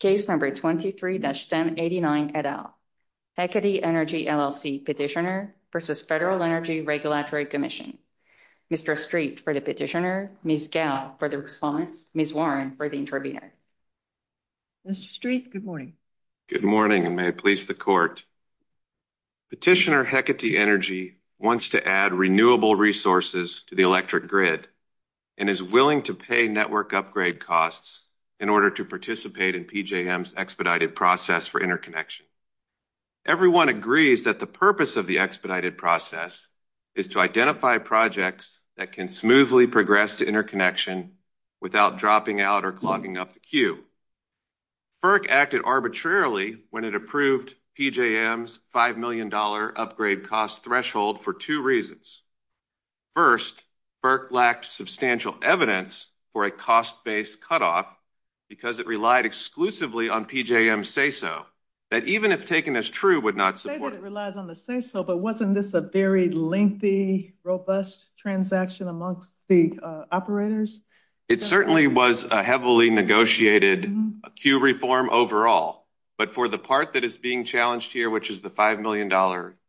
Case number 23-1089 et al. Hecate Energy LLC petitioner versus Federal Energy Regulatory Commission. Mr. Street for the petitioner, Ms. Gow for the response, Ms. Warren for the intervener. Mr. Street, good morning. Good morning and may it please the court. Petitioner Hecate Energy wants to add renewable resources to the electric grid and is willing to pay network upgrade costs in order to participate in PJM's expedited process for interconnection. Everyone agrees that the purpose of the expedited process is to identify projects that can smoothly progress to interconnection without dropping out or clogging up the queue. FERC acted arbitrarily when it approved PJM's $5 million upgrade cost threshold for two reasons. First, FERC lacked substantial evidence for a cost-based cutoff because it relied exclusively on PJM's SESO that even if taken as true would not support. Say that it relies on the SESO, but wasn't this a very lengthy, robust transaction amongst the operators? It certainly was a heavily negotiated queue reform overall, but for the part that is being challenged here, which is the $5 million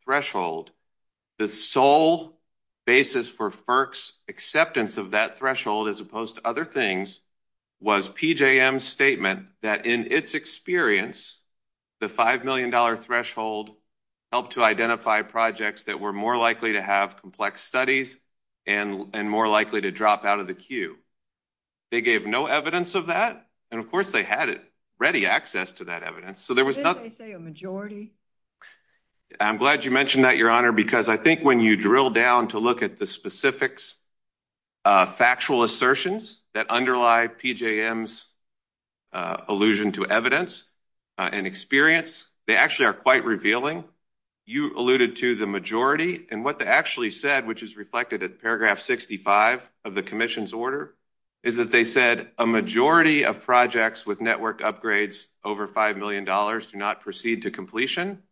threshold, the sole basis for FERC's acceptance of that threshold, as opposed to other things, was PJM's statement that in its experience, the $5 million threshold helped to identify projects that were more likely to have complex studies and more likely to drop out of the queue. They gave no evidence of that, and of course they had already access to that evidence. Didn't they say a majority? I'm glad you mentioned that, Your Honor, because I think when you drill down to look at the specifics, factual assertions that underlie PJM's allusion to evidence and experience, they actually are quite revealing. You alluded to the majority, and what they actually said, which is reflected in paragraph 65 of the Commission's order, is that they said a majority of projects with network upgrades over $5 million do not proceed to completion,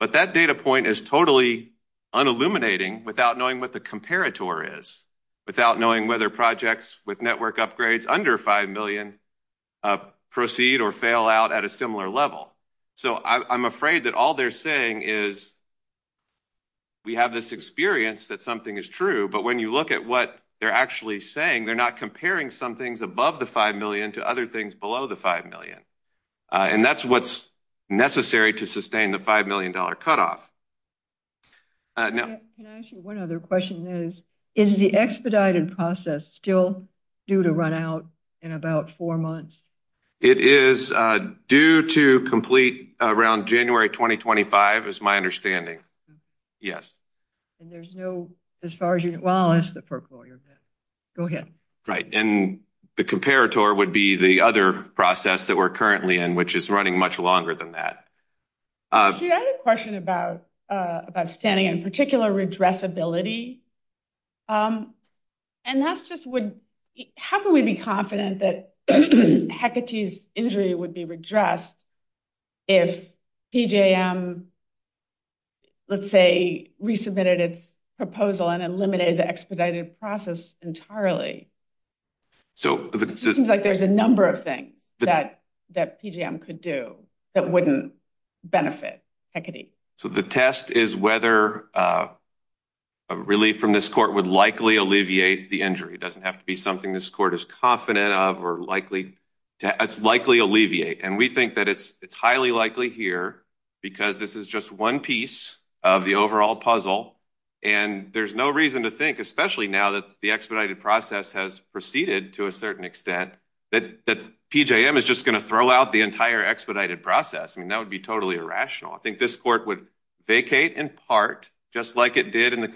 but that data point is totally unilluminating without knowing what the comparator is, without knowing whether projects with network upgrades under $5 million proceed or fail out at a similar level. So I'm afraid that all they're saying is we have this experience that something is true, but when you look at what they're actually saying, they're not comparing some things above the $5 million to other things below the $5 million, and that's what's necessary to sustain the $5 million cutoff. Can I ask you one other question? Is the expedited process still due to run out in about four months? It is due to complete around January 2025, is my understanding. Yes. And there's no, as far as you, well, unless the Perk Lawyer. Go ahead. Right, and the comparator would be the other process that we're currently in, which is running much longer than that. I had a question about standing, in particular, redressability, and that's just, how can we be confident that Hecate's injury would be redressed if PJM, let's say, resubmitted its proposal and eliminated the expedited process entirely? So it seems like there's a number of things that PJM could do that wouldn't benefit Hecate. So the test is whether a relief from this court would likely alleviate the injury. It doesn't have to be something this court is confident of or likely alleviate, and we think that it's highly likely here because this is just one piece of the overall puzzle, and there's no reason to think, especially now that the expedited process has proceeded to a certain extent, that PJM is just going to throw out the entire expedited process. I mean, that would be totally irrational. I think this court would vacate in part, just like it did in the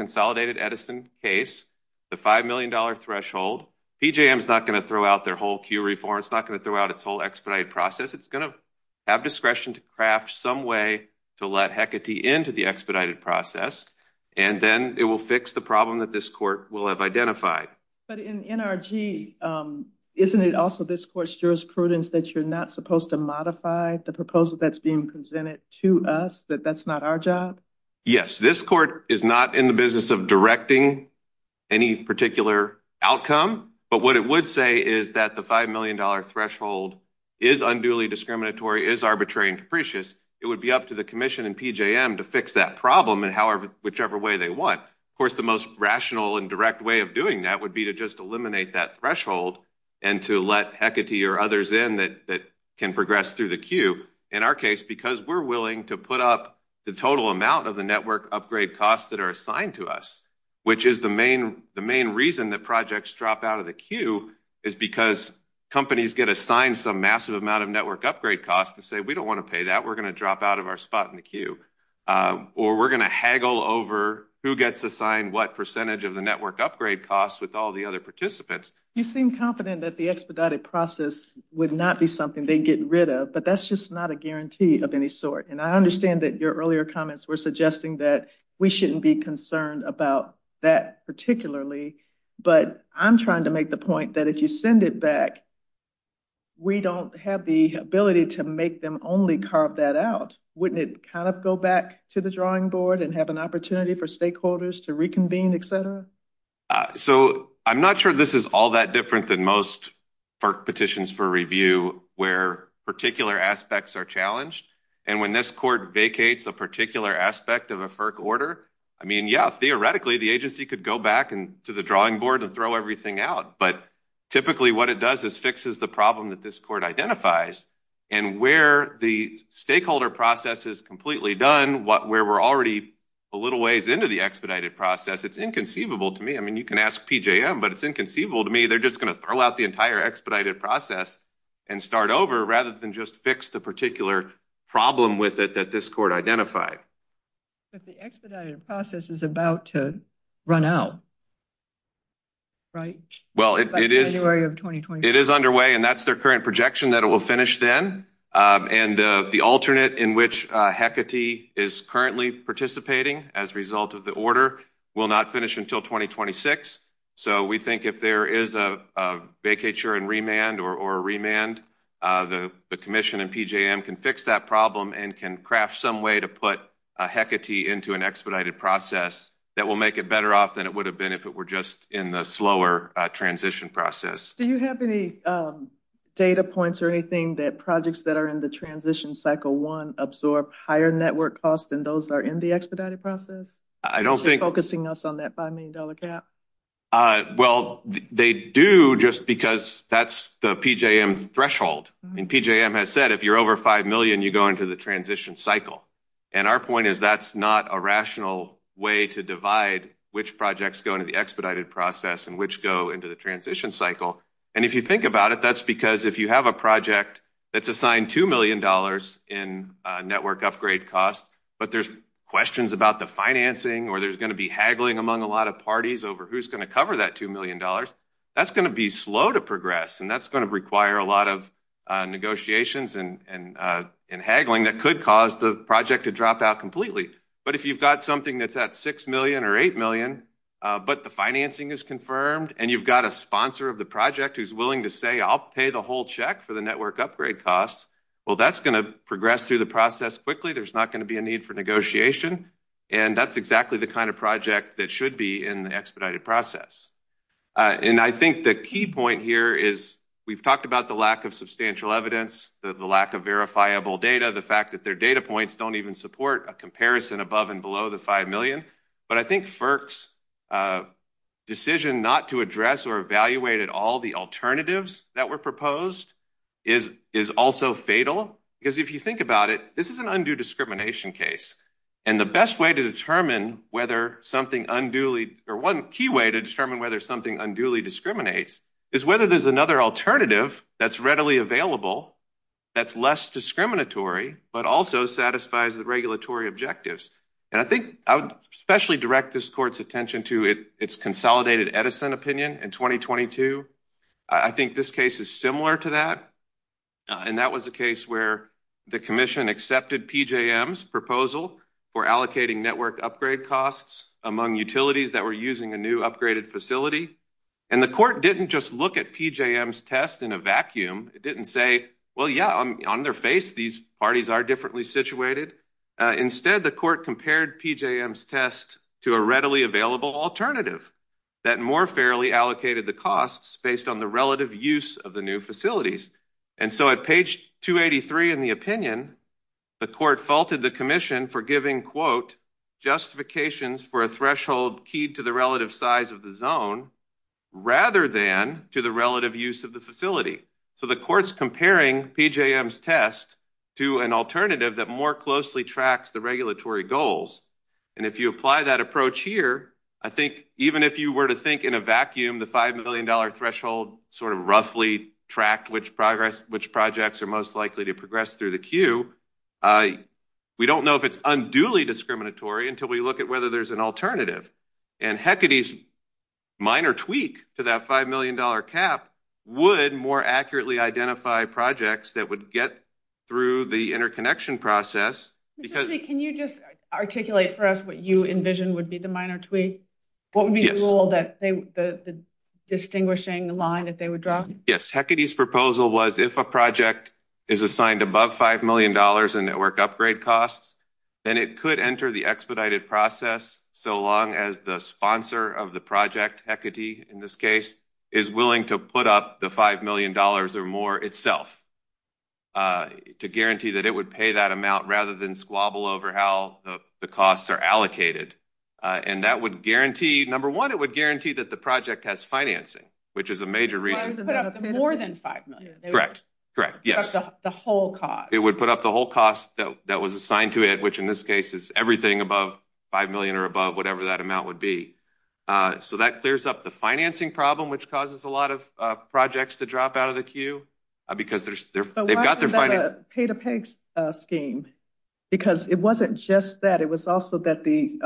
$5 million threshold. PJM is not going to throw out their whole Q reform. It's not going to throw out its whole expedited process. It's going to have discretion to craft some way to let Hecate into the expedited process, and then it will fix the problem that this court will have identified. But in NRG, isn't it also this court's jurisprudence that you're not supposed to modify the proposal that's being presented to us, that that's not our job? Yes, this court is not in the business of directing any particular outcome, but what it would say is that the $5 million threshold is unduly discriminatory, is arbitrary and capricious. It would be up to the commission and PJM to fix that problem in whichever way they want. Of course, the most rational and direct way of doing that would be to just eliminate that threshold and to let Hecate or others in that can progress through the queue. In our case, we're willing to put up the total amount of the network upgrade costs that are assigned to us, which is the main reason that projects drop out of the queue is because companies get assigned some massive amount of network upgrade costs to say, we don't want to pay that, we're going to drop out of our spot in the queue. Or we're going to haggle over who gets assigned what percentage of the network upgrade costs with all the other participants. You seem confident that the I understand that your earlier comments were suggesting that we shouldn't be concerned about that particularly, but I'm trying to make the point that if you send it back, we don't have the ability to make them only carve that out. Wouldn't it kind of go back to the drawing board and have an opportunity for stakeholders to reconvene, etc? So, I'm not sure this is all that different than most FERC petitions for review where particular aspects are challenged. And when this court vacates a particular aspect of a FERC order, I mean, yeah, theoretically, the agency could go back to the drawing board and throw everything out. But typically, what it does is fixes the problem that this court identifies. And where the stakeholder process is completely done, where we're already a little ways into the expedited process, it's inconceivable to me. I mean, you can ask PJM, but it's inconceivable to me, they're just going to throw out the entire expedited process and start over rather than just fix the particular problem with it that this court identified. But the expedited process is about to run out, right? Well, it is. It is underway, and that's their current projection that it will finish then. And the alternate in which Hecate is currently participating as a order will not finish until 2026. So, we think if there is a vacature and remand or a remand, the commission and PJM can fix that problem and can craft some way to put Hecate into an expedited process that will make it better off than it would have been if it were just in the slower transition process. Do you have any data points or anything that projects that are in the transition cycle one absorb higher network costs than those that are in the expedited process? I don't think... Focusing us on that $5 million cap? Well, they do just because that's the PJM threshold. And PJM has said if you're over $5 million, you go into the transition cycle. And our point is that's not a rational way to divide which projects go into the expedited process and which go into the transition cycle. And if you think about it, that's because if you have a project that's assigned $2 million in network upgrade costs, but there's questions about the financing or there's going to be haggling among a lot of parties over who's going to cover that $2 million, that's going to be slow to progress. And that's going to require a lot of negotiations and haggling that could cause the project to drop out completely. But if you've got something that's at $6 million or $8 million, but the financing is confirmed and you've got a sponsor of the project who's willing to say, I'll pay the whole check for the network upgrade costs, well, that's going to progress through the process quickly. There's not going to be a need for negotiation. And that's exactly the kind of project that should be in the expedited process. And I think the key point here is we've talked about the lack of substantial evidence, the lack of verifiable data, the fact that their data points don't even support a comparison above and below the $5 million. But I think FERC's decision not to address or evaluate at all the alternatives that were proposed is also fatal. Because if you think about it, this is an undue discrimination case. And the best way to determine whether something unduly or one key way to determine whether something unduly discriminates is whether there's another alternative that's readily available that's less discriminatory, but also satisfies the regulatory objectives. And I think I would especially direct this court's attention to its consolidated Edison opinion in 2022. I think this case is similar to that. And that was a case where the commission accepted PJM's proposal for allocating network upgrade costs among utilities that were using a new upgraded facility. And the court didn't just look at PJM's test in a vacuum. It didn't say, well, yeah, on their face, these parties are differently situated. Instead, the court compared PJM's test to a readily available alternative that more fairly allocated the costs based on the relative use of the new facilities. And so at page 283 in the opinion, the court faulted the commission for giving, quote, justifications for a threshold keyed to the relative size of the rather than to the relative use of the facility. So the court's comparing PJM's test to an alternative that more closely tracks the regulatory goals. And if you apply that approach here, I think even if you were to think in a vacuum, the $5 million threshold sort of roughly tracked which projects are most likely to progress through the queue. We don't know if it's unduly discriminatory until we look at whether there's an alternative. And Hecate's minor tweak to that $5 million cap would more accurately identify projects that would get through the interconnection process. Can you just articulate for us what you envision would be the minor tweak? What would be the rule that the distinguishing line that they would draw? Yes. Hecate's proposal was if a project is assigned above $5 million in network upgrade costs, then it could enter the expedited process so long as the sponsor of the project, Hecate in this case, is willing to put up the $5 million or more itself to guarantee that it would pay that amount rather than squabble over how the costs are allocated. And that would guarantee, number one, it would guarantee that the project has financing, which is a major reason. More than $5 million. Correct. Correct. Yes. The whole cost. It would put up the whole cost that was assigned to it, which in this case is everything above $5 million or above, whatever that amount would be. So that clears up the financing problem, which causes a lot of projects to drop out of the queue because they've got their finance. Pay-to-pay scheme, because it wasn't just that. It was also that the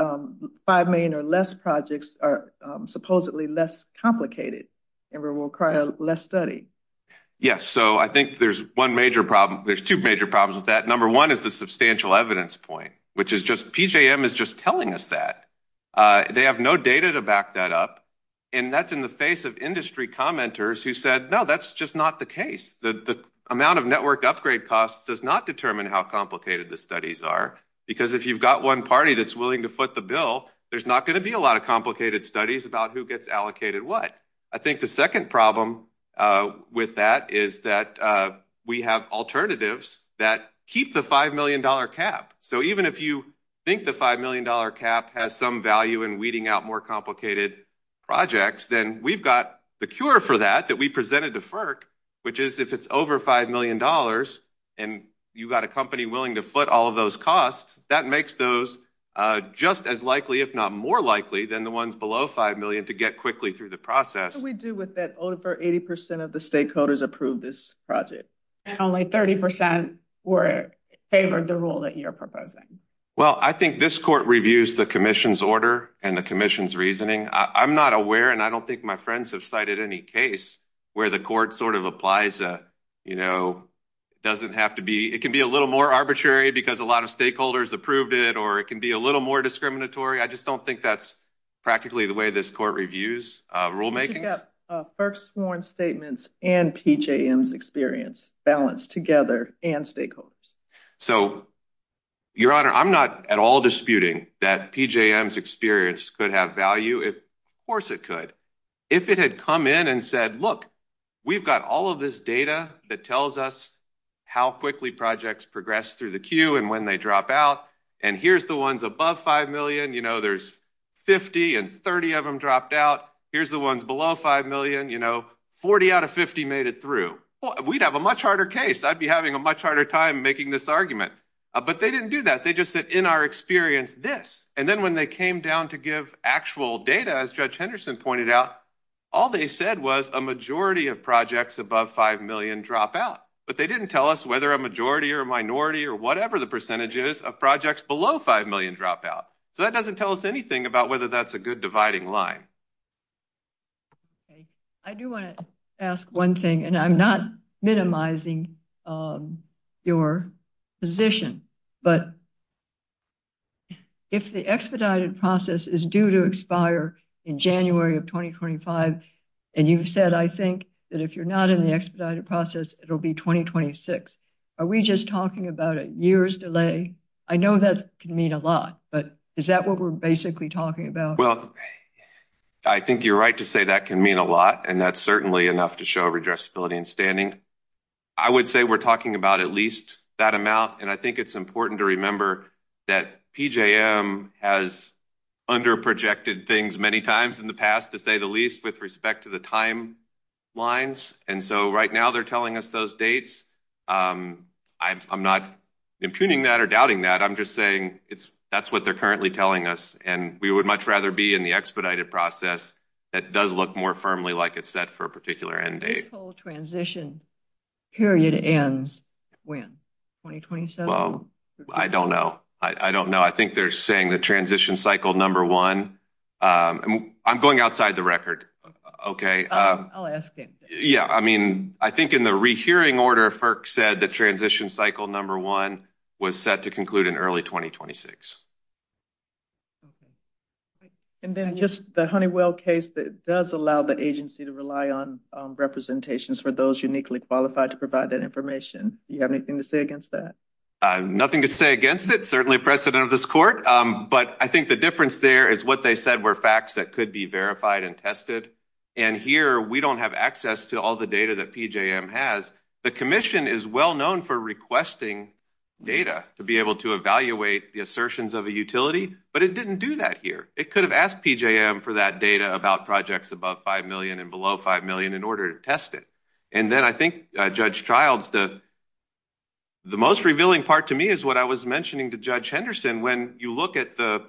$5 million or less projects are supposedly less complicated and will require less study. Yes. So I think there's one major problem. There's two major problems with that. Number one is the substantial evidence point, which is just PJM is just telling us that they have no data to back that up. And that's in the face of industry commenters who said, no, that's just not the case. The amount of network upgrade costs does not determine how complicated the studies are, because if you've got one party that's willing to foot the bill, there's not going to be a lot of complicated studies about who gets allocated what. I think the second problem with that is that we have alternatives that keep the $5 million cap. So even if you think the $5 million cap has some value in weeding out more complicated projects, then we've got the cure for that, that we presented to FERC, which is if it's over $5 million and you've got a company willing to foot all of those costs, that makes those just as likely, if not more likely, than the ones below $5 million to get quickly through the process. What do we do with that over 80% of the stakeholders approved this project? Only 30% favored the rule that you're proposing. Well, I think this court reviews the commission's order and the commission's reasoning. I'm not aware, and I don't think my friends have cited any case where the court sort of applies a, you know, it doesn't have to be, it can be a or it can be a little more discriminatory. I just don't think that's practically the way this court reviews rulemaking. FERC's sworn statements and PJM's experience balance together and stakeholders. So, Your Honor, I'm not at all disputing that PJM's experience could have value. Of course it could. If it had come in and said, look, we've got all of this data that tells us how quickly projects progress through the queue and when they drop out. And here's the ones above $5 million, you know, there's 50 and 30 of them dropped out. Here's the ones below $5 million, you know, 40 out of 50 made it through. We'd have a much harder case. I'd be having a much harder time making this argument. But they didn't do that. They just said, in our experience, this. And then when they came down to give actual data, as Judge Henderson pointed out, all they said was a majority of projects above $5 million drop out. But they didn't tell us whether a majority or minority or whatever the percentage is of projects below $5 million drop out. So that doesn't tell us anything about whether that's a good dividing line. I do want to ask one thing, and I'm not minimizing your position, but if the expedited process is due to expire in January of 2025, and you've said, I think, that if you're not in the expedited process, it'll be 2026, are we just talking about a year's delay? I know that can mean a lot, but is that what we're basically talking about? Well, I think you're right to say that can mean a lot, and that's certainly enough to show redressability and standing. I would say we're talking about at least that amount, and I think it's important to remember that PJM has under-projected things many times in the past to say the least with respect to the timelines, and so right now they're telling us those dates. I'm not impugning that or doubting that. I'm just saying that's what they're currently telling us, and we would much rather be in the expedited process that does look more firmly like it's set for a particular end date. This whole transition period ends when? 2027? Well, I don't know. I think they're saying the transition cycle number one. I'm going outside the record, okay? I'll ask it. Yeah, I mean, I think in the rehearing order, FERC said the transition cycle number one was set to conclude in early 2026. And then just the Honeywell case that does allow the agency to rely on representations for those uniquely qualified to provide that information. Do you have anything to say against that? Nothing to say against it. Certainly a precedent of this court, but I think the difference there is what they said were facts that could be verified and tested, and here we don't have access to all the data that PJM has. The commission is well known for requesting data to be able to evaluate the assertions of a utility, but it didn't do that here. It could have asked PJM for that data about projects above $5 million and below $5 million in order to test it. And then I think Judge Childs, the most revealing part to me is what I was mentioning to Judge Henderson. When you look at the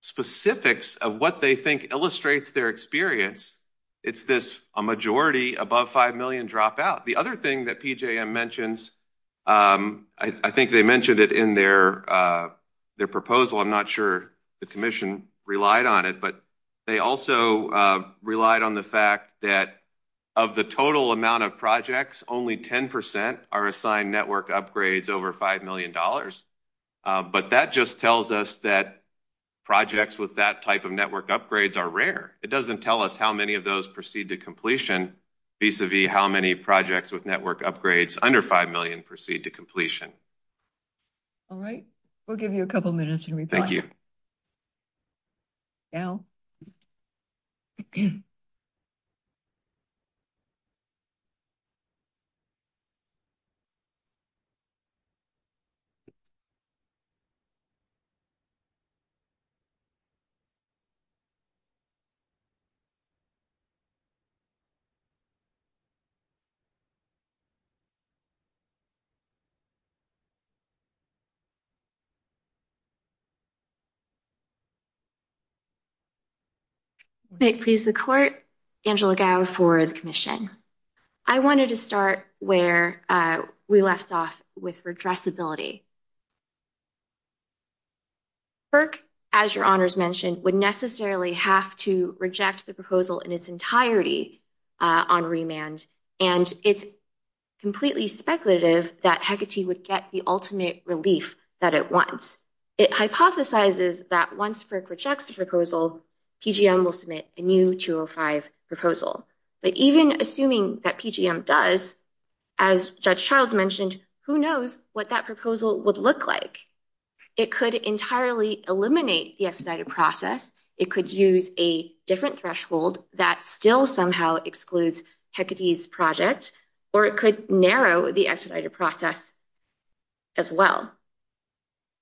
specifics of what they think illustrates their experience, it's this a majority above $5 million dropout. The other thing that PJM mentions, I think they mentioned it in their proposal. I'm not sure the commission relied on it, but they also relied on the fact that of the total amount of projects, only 10% are assigned network upgrades over $5 million. But that just tells us that projects with that type of network upgrades are rare. It doesn't tell us how many of those proceed to completion vis-a-vis how many projects with network upgrades under $5 million proceed to completion. All right, we'll give you a couple minutes to reply. Thank you. May it please the court, Angela Gao for the commission. I wanted to start where we left off with redressability. FERC, as your honors mentioned, would necessarily have to reject the proposal in its entirety on remand. And it's completely speculative that Hecate would get the ultimate relief that it wants. It hypothesizes that once FERC rejects the proposal, PJM will submit a new 205 proposal. But even assuming that PJM does, as Judge Childs mentioned, who knows what that proposal would look like. It could entirely eliminate the expedited process. It could use a different threshold that still somehow excludes Hecate's project, or it could narrow the expedited process as well.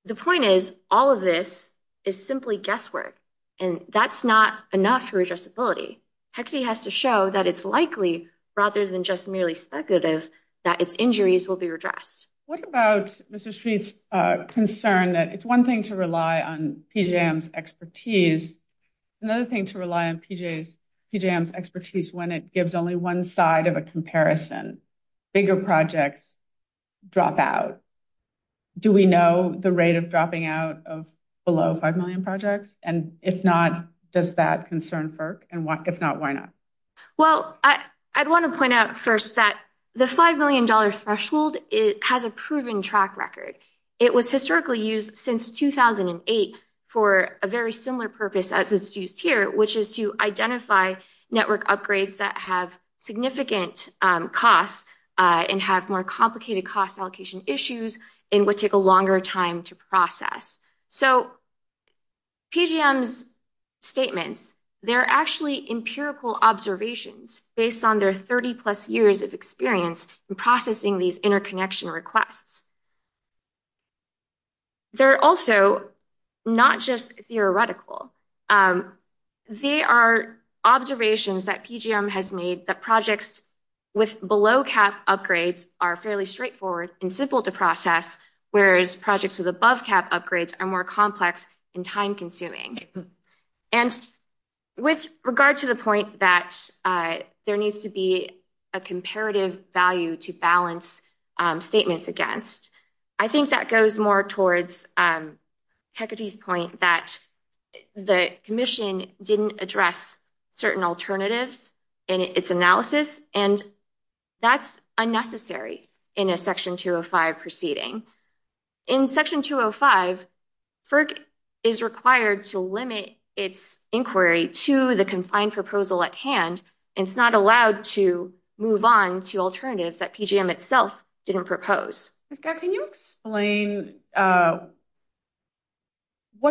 The point is, all of this is simply guesswork, and that's not enough for redressability. Hecate has to show that it's likely, rather than just merely speculative, that its injuries will be redressed. What about Mr. Street's concern that it's one thing to rely on PJM's expertise, another thing to rely on PJM's expertise when it gives only one side of a comparison? Bigger projects drop out. Do we know the rate of dropping out of below 5 million projects? And if not, does that concern FERC? And if not, why not? Well, I'd want to point out first that the $5 million threshold has a proven track record. It was historically used since 2008 for a very similar purpose as it's used here, which is to identify network upgrades that have significant costs and have more complicated cost allocation issues and would take a longer time to process. So PJM's statements, they're actually empirical observations based on their 30-plus years of experience in processing these interconnection requests. They're also not just theoretical. They are observations that PJM has made that projects with below-cap upgrades are fairly straightforward and simple to process, whereas projects with above-cap upgrades are more complex and time-consuming. And with regard to the point that there needs to be a comparative value to balance statements against, I think that goes more towards Hecate's point that the commission didn't address certain alternatives in its analysis, and that's unnecessary in a Section 205 proceeding. In Section 205, FERC is required to limit its inquiry to the confined proposal at hand, and it's not allowed to move on to alternatives that PJM itself didn't propose. Can you explain what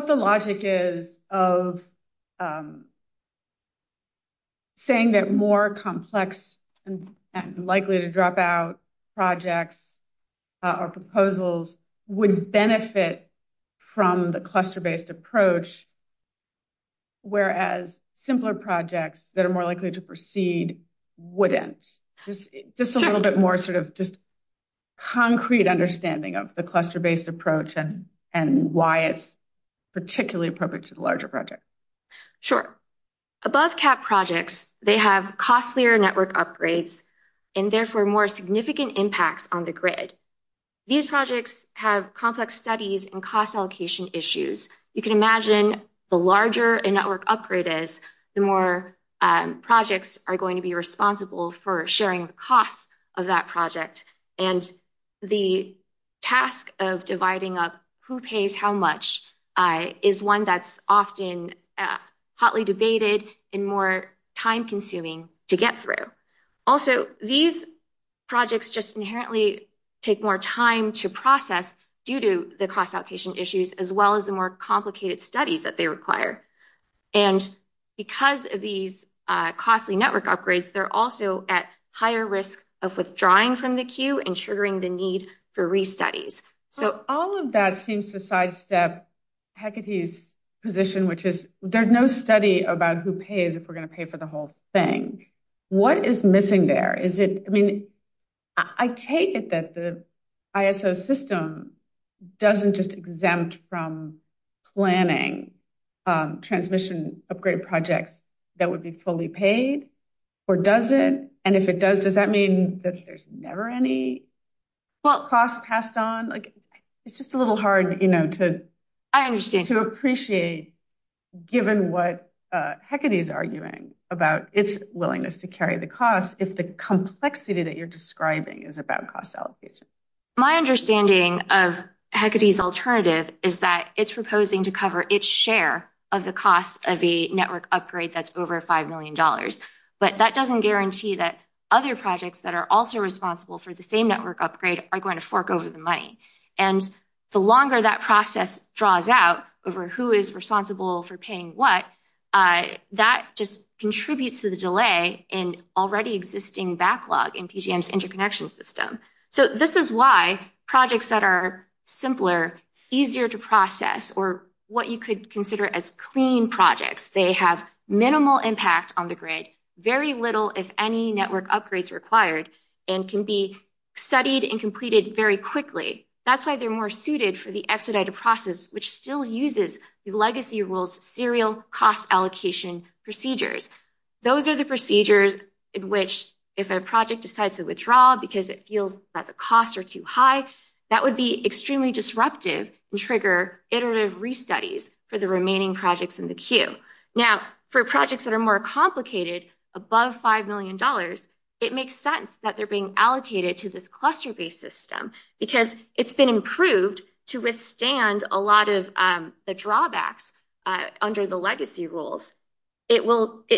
the logic is of saying that more complex and likely to drop out projects or proposals would benefit from the cluster-based approach, whereas simpler projects that are more likely to proceed wouldn't? Just a little bit more sort of just concrete understanding of the cluster-based approach and why it's particularly appropriate to the larger project. Sure. Above-cap projects, they have costlier network upgrades and therefore more significant impacts on the grid. These projects have complex studies and cost allocation issues. You can for sharing the costs of that project, and the task of dividing up who pays how much is one that's often hotly debated and more time-consuming to get through. Also, these projects just inherently take more time to process due to the cost allocation issues, as well as the more studies that they require. Because of these costly network upgrades, they're also at higher risk of withdrawing from the queue and triggering the need for restudies. All of that seems to sidestep Hecate's position, which is there's no study about who pays if we're going to pay for the whole thing. What is missing there? I take it that the ISO system doesn't just exempt from planning transmission upgrade projects that would be fully paid, or does it? If it does, does that mean that there's never any cost passed on? It's just a little hard to appreciate, given what Hecate's arguing about its willingness to carry the cost, if the complexity that you're proposing to cover its share of the cost of a network upgrade that's over $5 million. But that doesn't guarantee that other projects that are also responsible for the same network upgrade are going to fork over the money. The longer that process draws out over who is responsible for paying what, that just contributes to the delay in already existing backlog in PGM's interconnection system. So this is why projects that are simpler, easier to process, or what you could consider as clean projects, they have minimal impact on the grid, very little if any network upgrades required, and can be studied and completed very quickly. That's why they're more suited for the exedited process, which still uses the legacy rules serial cost allocation procedures. Those are procedures in which, if a project decides to withdraw because it feels that the costs are too high, that would be extremely disruptive and trigger iterative restudies for the remaining projects in the queue. Now, for projects that are more complicated, above $5 million, it makes sense that they're being allocated to this cluster-based system, because it's been improved to withstand a lot of the drawbacks under the legacy rules. It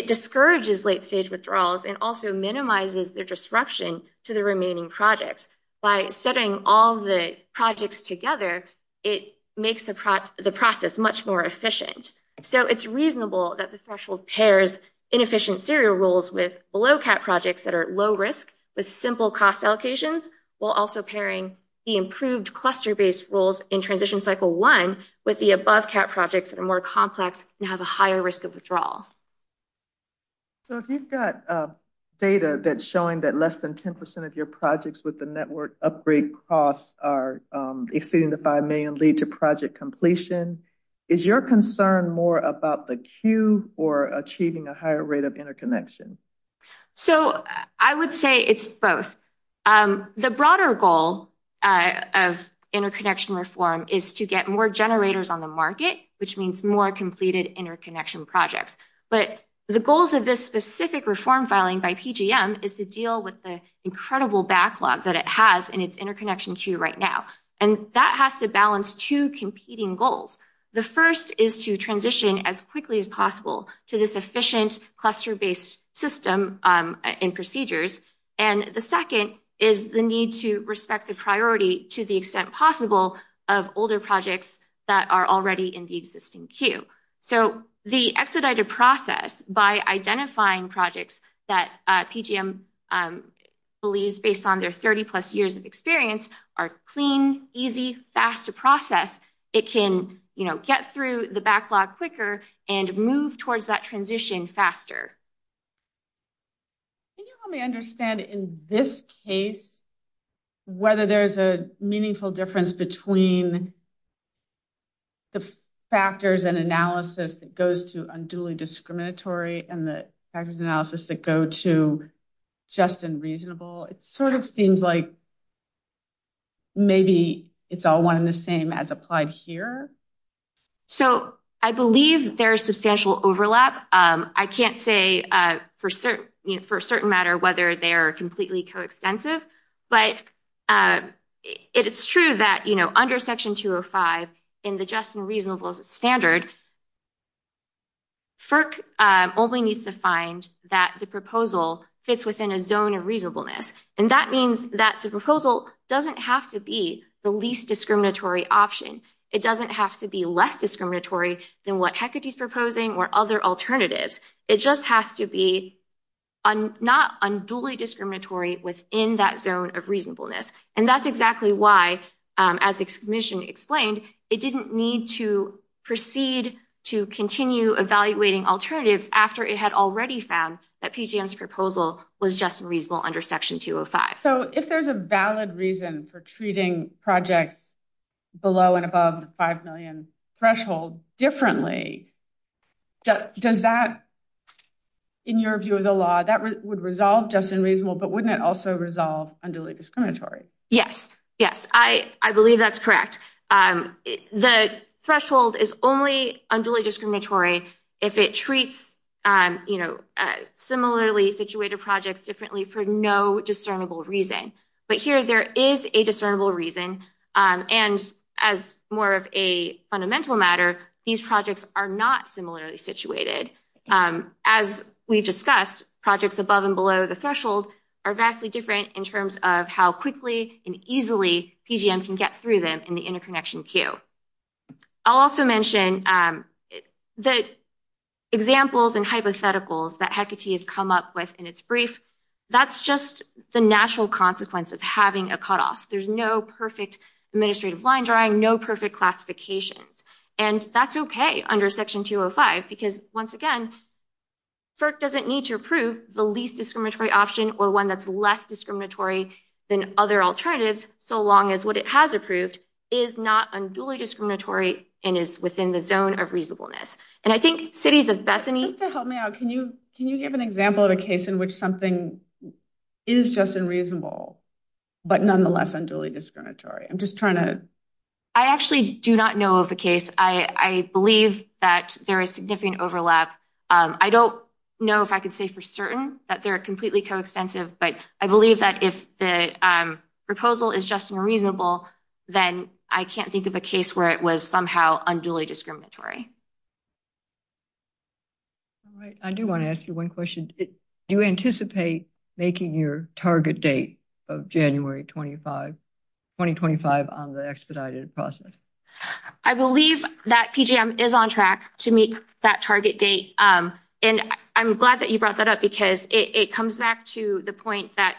discourages late-stage withdrawals and also minimizes the disruption to the remaining projects. By setting all the projects together, it makes the process much more efficient. So it's reasonable that the threshold pairs inefficient serial rules with below-cap projects that are low-risk with simple cost allocations, while also pairing the improved cluster-based rules in transition cycle one with the above-cap projects that are more complex and have a higher risk of withdrawal. So if you've got data that's showing that less than 10 percent of your projects with the network upgrade costs are exceeding the $5 million lead to project completion, is your concern more about the queue or achieving a higher rate of interconnection reform is to get more generators on the market, which means more completed interconnection projects. But the goals of this specific reform filing by PGM is to deal with the incredible backlog that it has in its interconnection queue right now. And that has to balance two competing goals. The first is to transition as quickly as possible to this efficient cluster-based system and procedures. And the second is the need to respect the priority to the extent possible of older projects that are already in the existing queue. So the expedited process, by identifying projects that PGM believes, based on their 30-plus years of experience, are clean, easy, fast to process, it can get through the backlog quicker and move towards that transition faster. Can you help me understand, in this case, whether there's a meaningful difference between the factors and analysis that goes to unduly discriminatory and the factors analysis that go to just and reasonable? It sort of seems like maybe it's all one and the same as applied here. So I believe there's substantial overlap. I can't say for a certain matter whether they are completely coextensive, but it's true that, you know, under Section 205 in the just and reasonable standard, FERC only needs to find that the proposal fits within a zone of reasonableness. And that means that the proposal doesn't have to be the least discriminatory option. It doesn't have to be less discriminatory than what HECUTI's proposing or other alternatives. It just has to be not unduly discriminatory within that zone of reasonableness. And that's exactly why, as the Commission explained, it didn't need to proceed to continue evaluating alternatives after it had already found that PGM's proposal was just and reasonable under Section 205. So if there's a valid reason for treating projects below and above the $5 million threshold differently, does that, in your view of the law, that would resolve just and reasonable, but wouldn't it also resolve unduly discriminatory? Yes. Yes. I believe that's correct. The threshold is only unduly discriminatory if it treats, you know, similarly situated projects differently for no discernible reason. But here there is a discernible reason, and as more of a fundamental matter, these projects are not similarly situated. As we've discussed, projects above and below the threshold are vastly different in terms of how quickly and easily PGM can get through them in the interconnection queue. I'll also mention the examples and hypotheticals that HECUTI has come up with in its brief. That's just the natural consequence of having a cutoff. There's no perfect administrative line drawing, no perfect classifications. And that's okay under Section 205 because, once again, FERC doesn't need to approve the least discriminatory option or one that's less discriminatory than other alternatives, so long as what it has approved is not unduly discriminatory and is within the zone of reasonableness. And I think cities of Bethany— Just to help me out, can you give an example of a case in which something is just and reasonable, but nonetheless unduly discriminatory? I'm just trying to— I actually do not know of a case. I believe that there is significant overlap. I don't know if I can say for certain that they're completely coextensive, but I believe that if the proposal is just and reasonable, then I can't think of a case where it was somehow unduly discriminatory. All right. I do want to ask you one question. Do you anticipate making your target date of January 2025 on the expedited process? I believe that PGM is on track to meet that target date. And I'm glad that you brought that up because it comes back to the point that,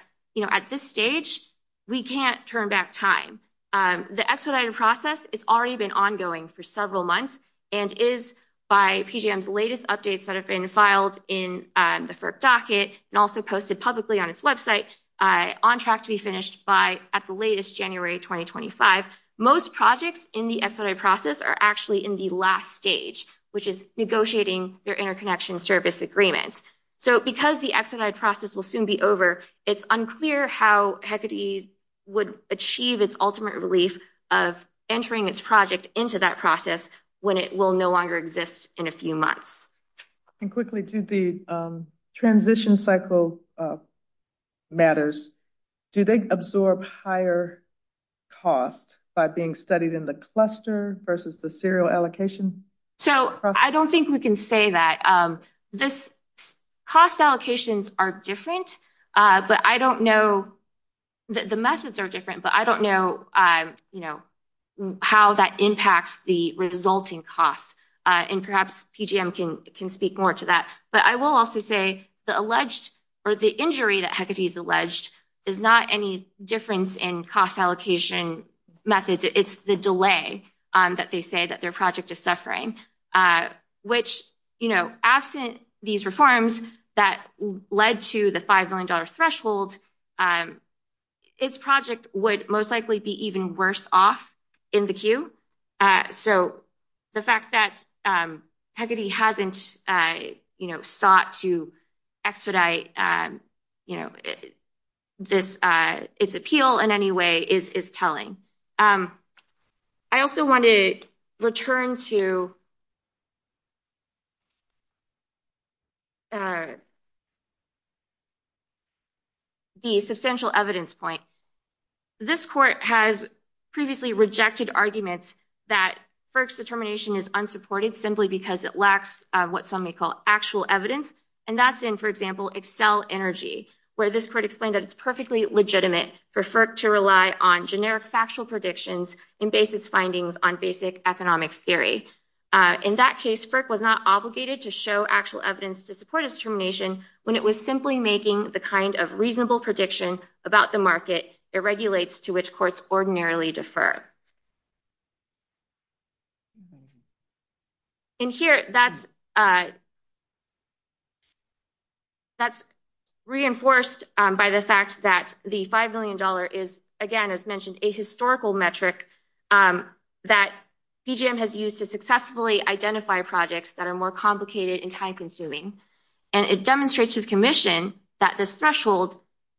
at this stage, we can't turn back time. The expedited process has already been ongoing for several months and is, by PGM's latest updates that have been filed in the FERC docket and also posted publicly on its website, on track to be finished by at the latest January 2025. Most projects in the expedited process are actually in the last stage, which is negotiating their interconnection service agreements. So because the expedited process will soon be over, it's unclear how HECADES would achieve its ultimate relief of entering its project into that process when it will no longer exist in a few months. And quickly to the transition cycle matters, do they absorb higher cost by being studied in the cluster versus the serial allocation? So I don't think we can say that. This cost allocations are different, but I don't know that the methods are different, but I don't know, you know, how that impacts the resulting costs. And perhaps PGM can speak more to that. But I will also say the alleged or the injury that HECADES alleged is not any difference in cost allocation methods. It's the delay that they say that their project is suffering, which, you know, absent these reforms that led to the $5 million threshold, and its project would most likely be even worse off in the queue. So the fact that HECADES hasn't, you know, sought to expedite, you know, this, its appeal in any way is telling. I also want to return to the substantial evidence point. This court has previously rejected arguments that FERC's determination is unsupported simply because it lacks what some may call actual evidence. And that's in, for example, Excel Energy, where this court explained that it's perfectly legitimate for FERC to rely on generic factual predictions and base its findings on basic economic theory. In that case, FERC was not obligated to show actual evidence to support its determination when it was simply making the kind of reasonable prediction about the market it regulates to which courts ordinarily defer. And here, that's reinforced by the fact that the $5 million is, again, as mentioned, a historical metric that PGM has used to successfully identify projects that are more complicated and time-consuming. And it demonstrates to the Commission that this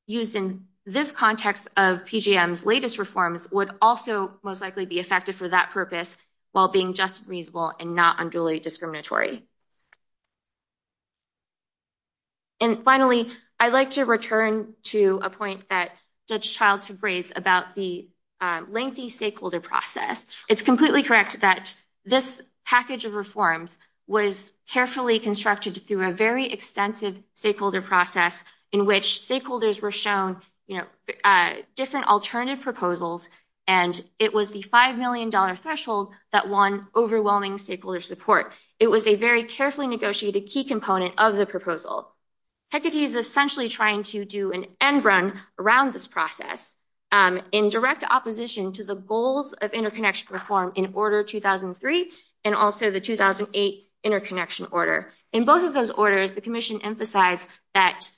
used in this context of PGM's latest reforms would also most likely be effective for that purpose while being just reasonable and not unduly discriminatory. And finally, I'd like to return to a point that Judge Childs had raised about the lengthy stakeholder process. It's completely correct that this package of reforms was carefully constructed through a very extensive stakeholder process in which stakeholders were shown, you know, different alternative proposals, and it was the $5 million threshold that won overwhelming stakeholder support. It was a very carefully negotiated key component of the proposal. HECD is essentially trying to do an end run around this process in direct opposition to the goals of interconnection reform in Order 2003 and also the 2008 interconnection order. In both of those orders, the Commission emphasized that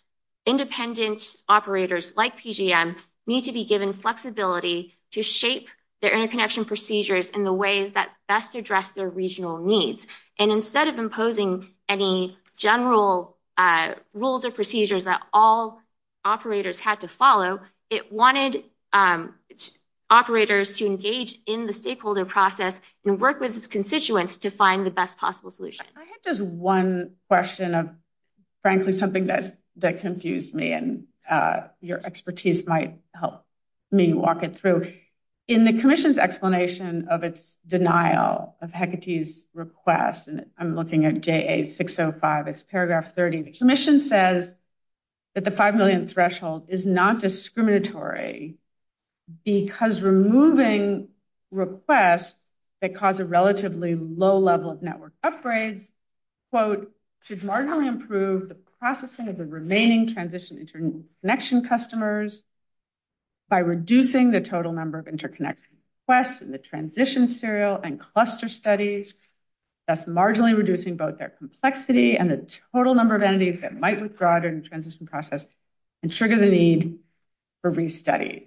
independent operators like PGM need to be given flexibility to shape their interconnection procedures in the ways that best address their regional needs. And instead of imposing any general rules or procedures that all operators had to follow, it wanted operators to engage in the stakeholder process and work with its constituents to find the best possible solution. I had just one question of, frankly, something that confused me, and your expertise might help me walk it through. In the Commission's explanation of its denial of HECD's request, and I'm looking at JA 605, it's paragraph 30, the Commission says that the $5 million threshold is not discriminatory because removing requests that cause a relatively low level of network upgrades, quote, should marginally improve the processing of the remaining transition interconnection customers by reducing the total number of interconnect requests in the transition serial and cluster studies, thus marginally reducing both their complexity and the total number of entities that might withdraw during the transition process and trigger the need for restudy.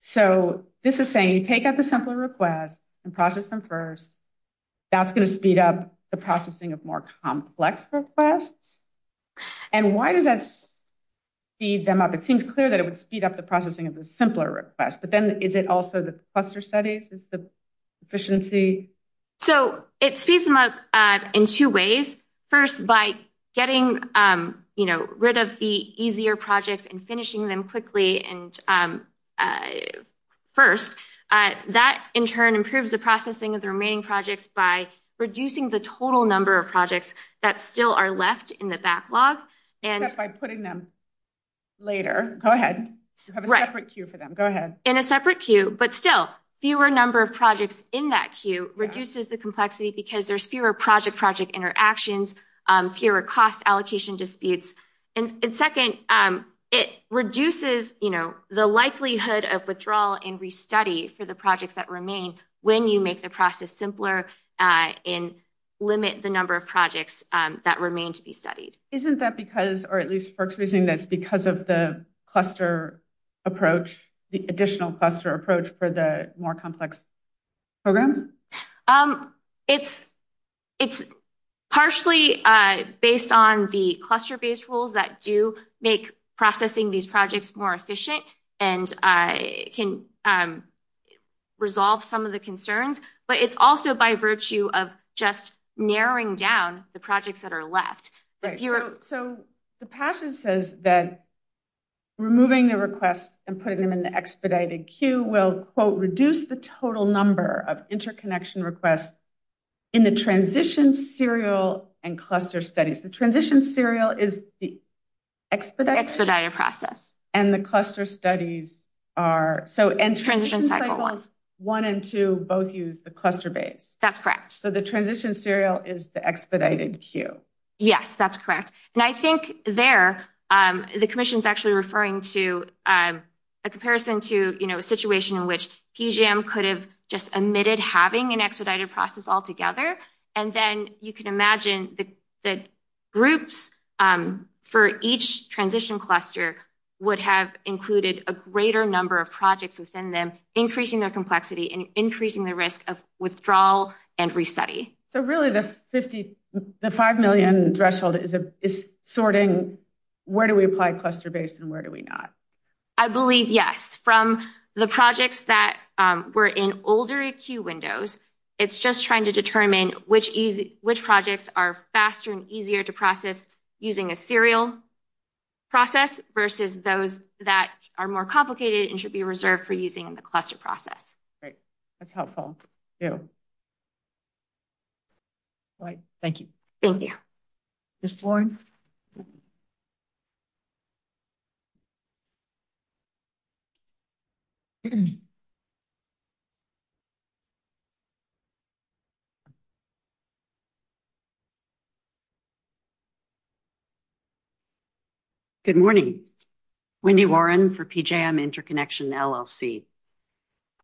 So this is saying you take out the simpler request and process them first. That's going to speed up the processing of more complex requests. And why does that speed them up? It seems clear that it would speed up the processing of the simpler request, but then is it also the cluster studies is the efficiency? So it speeds them up in two ways. First, by getting, you know, rid of the easier projects and finishing them quickly. And first, that in turn improves the processing of the remaining projects by reducing the total number of projects that still are left in the backlog. And by putting them later, go ahead. You have a separate queue for them. Go ahead. In a separate queue, but still fewer number of projects in that queue reduces the complexity because there's fewer project project interactions, fewer cost allocation disputes. And second, it reduces, you know, the likelihood of withdrawal and restudy for the projects that remain when you make the process simpler and limit the number of projects that remain to be studied. Isn't that because, or at least first reasoning that's because of the cluster approach, the additional cluster approach for the more complex programs? It's partially based on the cluster-based rules that do make processing these projects more efficient and can resolve some of the concerns. But it's also by virtue of just narrowing down the projects that are left. So the passion says that removing the request and putting them in the expedited queue will reduce the total number of interconnection requests in the transition serial and cluster studies. The transition serial is the expedited process and the cluster studies are, so, one and two both use the cluster base. That's correct. So the transition serial is the expedited queue. Yes, that's correct. And I think there, the commission's actually referring to a comparison to, you know, a situation in which PGM could have just omitted having an expedited process altogether. And then you can imagine the groups for each transition cluster would have included a greater number of projects within them, increasing their complexity and increasing the risk of withdrawal and restudy. So really the 5 million threshold is sorting, where do we apply cluster-based and where do we not? I believe, yes. From the projects that were in older queue windows, it's just trying to determine which projects are faster and easier to process using a serial process versus those that are more complicated and should be reserved for using the cluster process. Great. That's helpful. Thank you. Thank you. Ms. Warren. Good morning. Wendy Warren for PGM Interconnection LLC.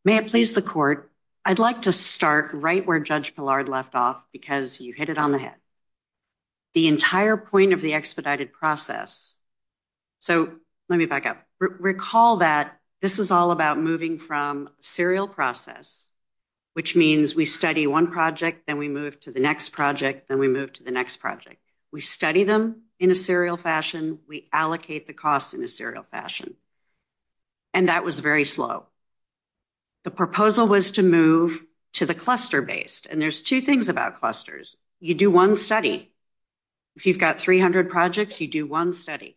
May it please the court, I'd like to start right where Judge Pillard left off because you hit it on the head. The entire point of the expedited process. So, let me back up. Recall that this is all about moving from serial process, which means we study one project, then we move to the next project, then we move to the next project. We study them in a serial fashion. We allocate the costs in a serial fashion. And that was very slow. The proposal was to move to the cluster-based. And there's two things about clusters. You do one study. If you've got 300 projects, you do one study.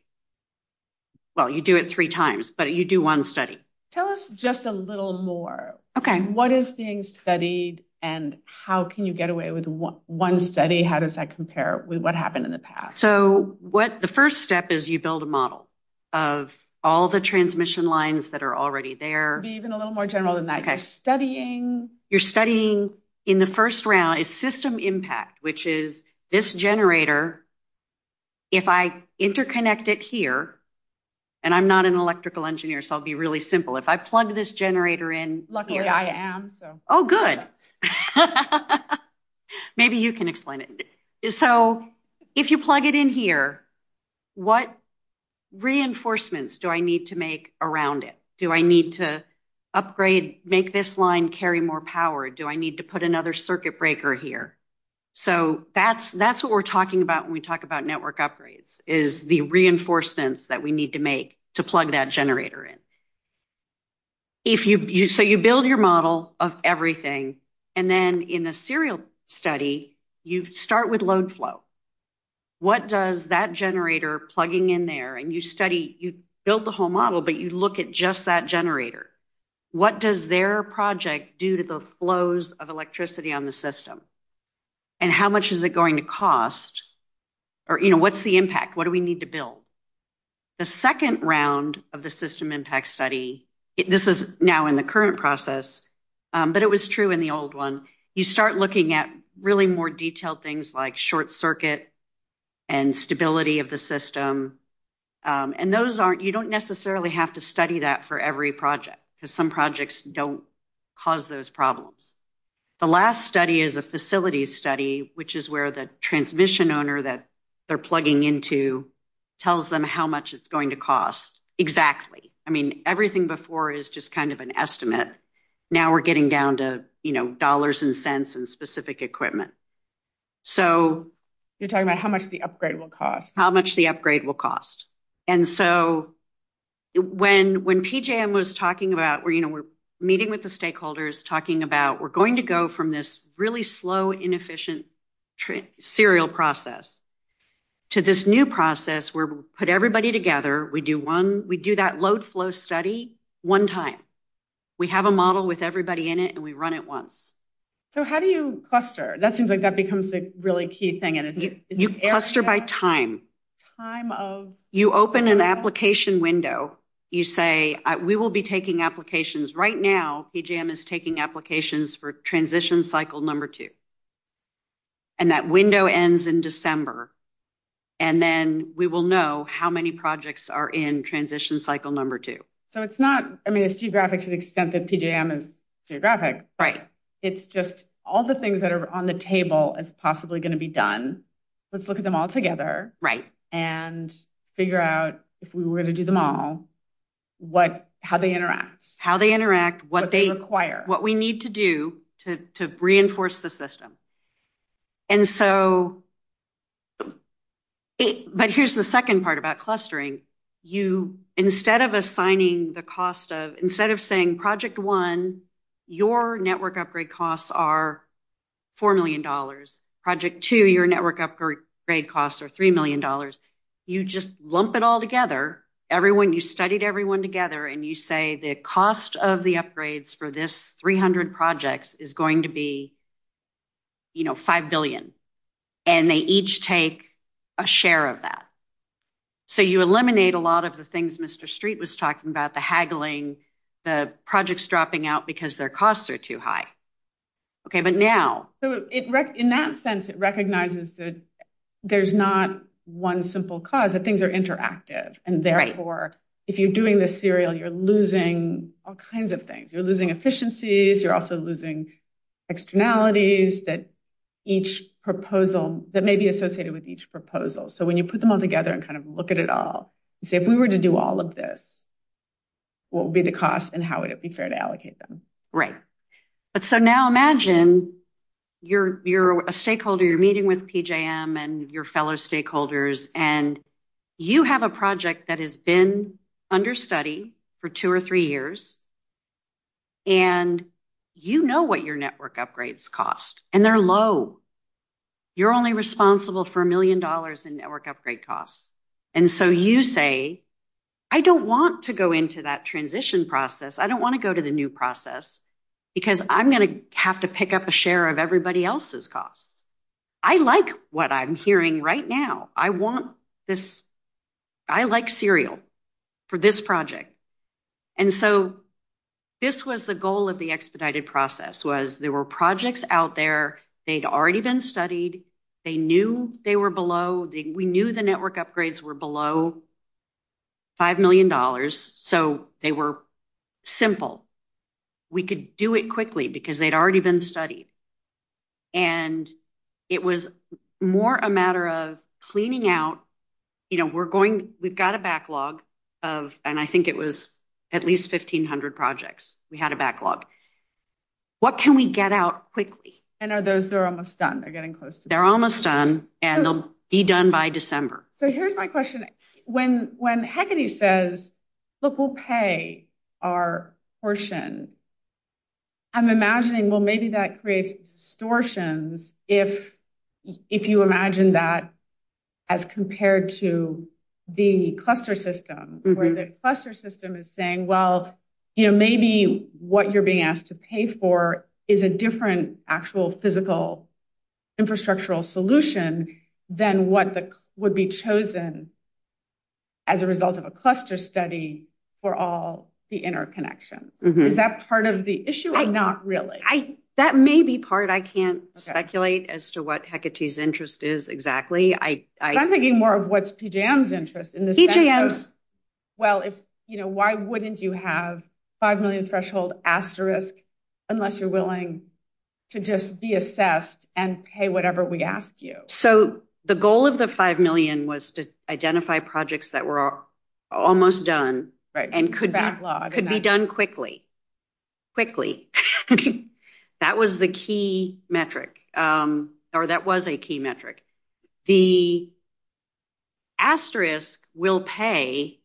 Well, you do it three times, but you do one study. Tell us just a little more. Okay. What is being studied and how can you get away with one study? How does that compare with what happened in the past? So, the first step is you build a model of all the transmission lines that are already there. Be even a little more general than that. Studying... You're studying in the first round is system impact, which is this generator. If I interconnect it here, and I'm not an electrical engineer, so I'll be really simple. If I plug this generator in... Luckily, I am. Oh, good. Maybe you can explain it. So, if you plug it in here, what reinforcements do I need to make around it? Do I need to upgrade, make this line carry more power? Do I need to put another circuit breaker here? So, that's what we're talking about when we talk about network upgrades, is the reinforcements that we need to make to plug that generator in. So, you build your model of everything. And then, in the serial study, you start with load flow. What does that generator plugging in there... And you build the whole model, but you look at just that generator. What does their project do to the flows of electricity on the system? And how much is it going to cost? Or what's the impact? What do we need to build? The second round of the system impact study... This is now in the current process, but it was true in the old one. You start looking at really more detailed things like short circuit and stability of the system. And you don't necessarily have to study that for every project because some projects don't cause those problems. The last study is a facility study, which is where the transmission owner that they're plugging into tells them how much it's going to cost exactly. I mean, everything before is just kind of an estimate. Now, we're getting down to dollars and cents and specific equipment. You're talking about how much the upgrade will cost. How much the upgrade will cost. And so, when PJM was talking about... We're meeting with the stakeholders talking about, we're going to go from this really slow, inefficient serial process to this new process where we put everybody together. We do that load flow study one time. We have a model with everybody in it, and we run it once. So, how do you cluster? That seems like that becomes the really key thing. You cluster by time. You open an application window. You say, we will be taking applications. Right now, PJM is taking applications for transition cycle number two. And that window ends in December. And then we will know how many projects are in transition cycle number two. So, it's not... I mean, it's geographic to the extent that PJM is geographic. Right. It's just all the things that are on the table as possibly going to be done. Let's look at them all together. Right. And figure out if we were to do them all, how they interact. How they interact. What they require. What we need to do to reinforce the system. But here's the second part about clustering. You, instead of assigning the cost of... Instead of saying project one, your network upgrade costs are $4 million. Project two, your network upgrade costs are $3 million. You just lump it all together. You studied everyone together, and you say the cost of the upgrades for this 300 projects is going to be $5 billion. And they each take a share of that. So, you eliminate a lot of the things Mr. Street was talking about. The haggling. The projects dropping out because their costs are too high. Okay. But now... In that sense, it recognizes that there's not one simple cause. That things are interactive. And therefore, if you're doing this serial, you're losing all kinds of things. You're losing efficiencies. You're also losing externalities that each proposal... That may be associated with each proposal. So, when you put them all together and kind of look at it all and say, if we were to do all of this, what would be the cost and how would it be fair to allocate them? Right. But so now, imagine you're a stakeholder. You're meeting with PJM and your fellow stakeholders. And you have a project that has been under study for two or three years. And you know what your network upgrades cost. And they're low. You're only responsible for a million dollars in network upgrade costs. And so, you say, I don't want to go into that transition process. I don't want to go to the new process because I'm going to have to pick up a share of everybody else's costs. I like what I'm hearing right now. I want this... I like serial for this project. And so, this was the goal of the expedited process was there were projects out there. They'd already been studied. They knew they were below... We knew the network upgrades were below $5 million. So, they were simple. We could do it quickly because they'd already been studied. And it was more a matter of cleaning out. You know, we're going... We've got a backlog of... And I think it was at least 1500 projects. We had a backlog. What can we get out quickly? And are those... They're almost done. They're getting close. They're almost done. And they'll be done by December. So, here's my question. When Hecate says, look, we'll pay our portion, I'm imagining, well, maybe that creates distortions if you imagine that as compared to the cluster system where the cluster system is saying, well, you know, maybe what you're being asked to pay for is a different actual physical infrastructural solution than what would be chosen as a result of a cluster study for all the interconnections. Is that part of the issue or not really? That may be part. I can't speculate as to what Hecate's interest is exactly. I'm thinking more of what's PJM's interest. PJM's. Well, if, you know, why wouldn't you have 5 million threshold asterisk unless you're willing to just be assessed and pay whatever we ask you? So, the goal of the 5 million was to identify projects that were almost done and could be done quickly. Quickly. That was the key metric or that was a key metric. The asterisk will pay,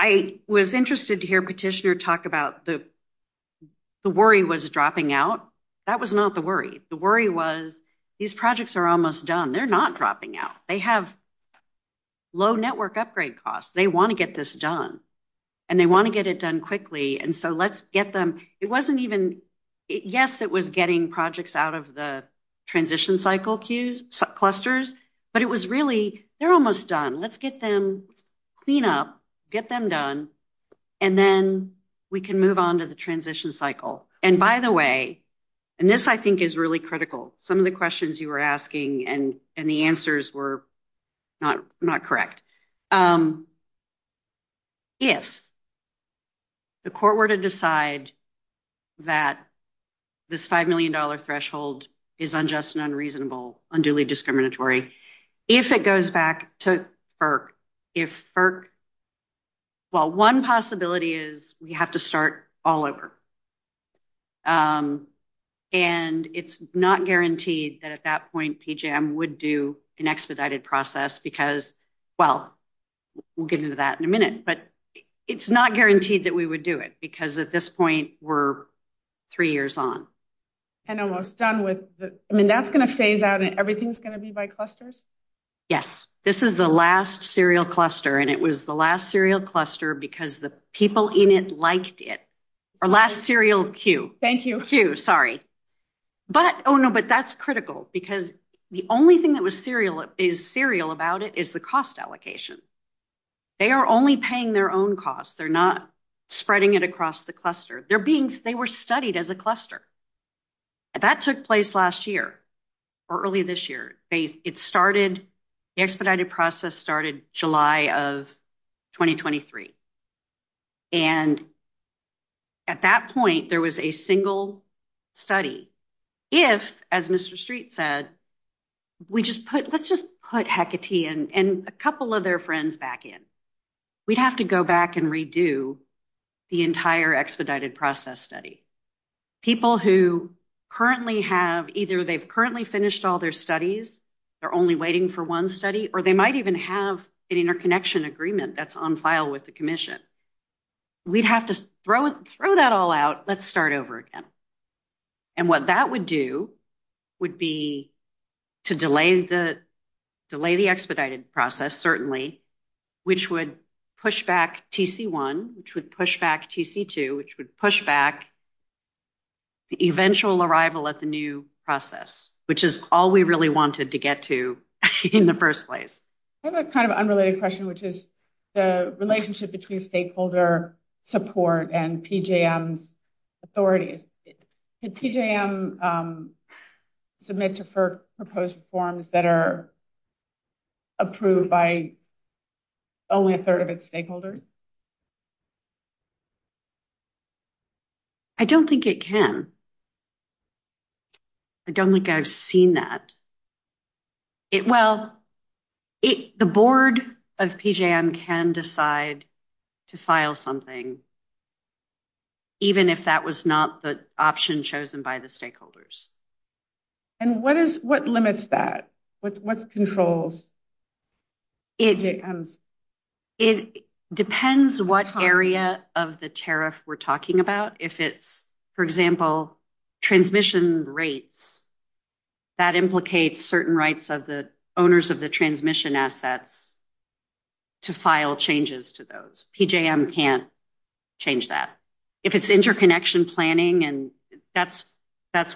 I was interested to hear Petitioner talk about the worry was dropping out. That was not the worry. The worry was these projects are almost done. They're not dropping out. They have low network upgrade costs. They want to get this done. And they want to get it done quickly. And so, let's get them, it wasn't even, yes, it was getting projects out of the transition cycle clusters, but it was really, they're almost done. Let's get them, clean up, get them done, and then we can move on to the transition cycle. And by the way, and this, I think, is really critical. Some of the questions you were asking and the answers were not correct. If the court were to decide that this $5 million threshold is unjust and unreasonable, unduly discriminatory, if it goes back to FERC, if FERC, well, one possibility is we have to start all over. And it's not guaranteed that at that point, PJM would do an expedited process because, well, we'll get into that in a minute, but it's not guaranteed that we would do it because at this point, we're three years on. And almost done with the, I mean, that's going to phase out and everything's going to be by clusters? Yes. This is the last serial cluster. And it was the last serial cluster because the people in it liked it. Our last serial queue. Thank you. Queue, sorry. But, oh no, but that's critical because the only thing that was serial, is serial about it is the cost allocation. They are only paying their own costs. They're not spreading it across the cluster. They're being, they were studied as a cluster. That took place last year or early this year. It started, the expedited process started July of 2023. And at that point, there was a single study. If, as Mr. Street said, we just put, let's just put Hecate and a couple of their friends back in. We'd have to go back and redo the entire expedited process study. People who currently have, either they've currently finished all their studies, they're only waiting for one study, or they might even have an interconnection agreement that's on file with the commission. We'd have to throw that all out. Let's start over again. And what that would do would be to delay the expedited process, certainly, which would push back TC1, which would push back TC2, which would push back the eventual arrival at the new process, which is all we really wanted to get to in the first place. I have a kind of unrelated question, which is the relationship between stakeholder support and PJM's authorities. Did PJM submit to FERC proposed reforms that are approved by only a third of its stakeholders? I don't think it can. I don't think I've seen that. Well, the board of PJM can decide to file something, even if that was not the option chosen by the stakeholders. And what limits that? What controls PJM's? It depends what area of the tariff we're talking about. If it's, for example, transmission rates, that implicates certain rights of the owners of the transmission assets to file changes to those. PJM can't change that. If it's interconnection planning, and that's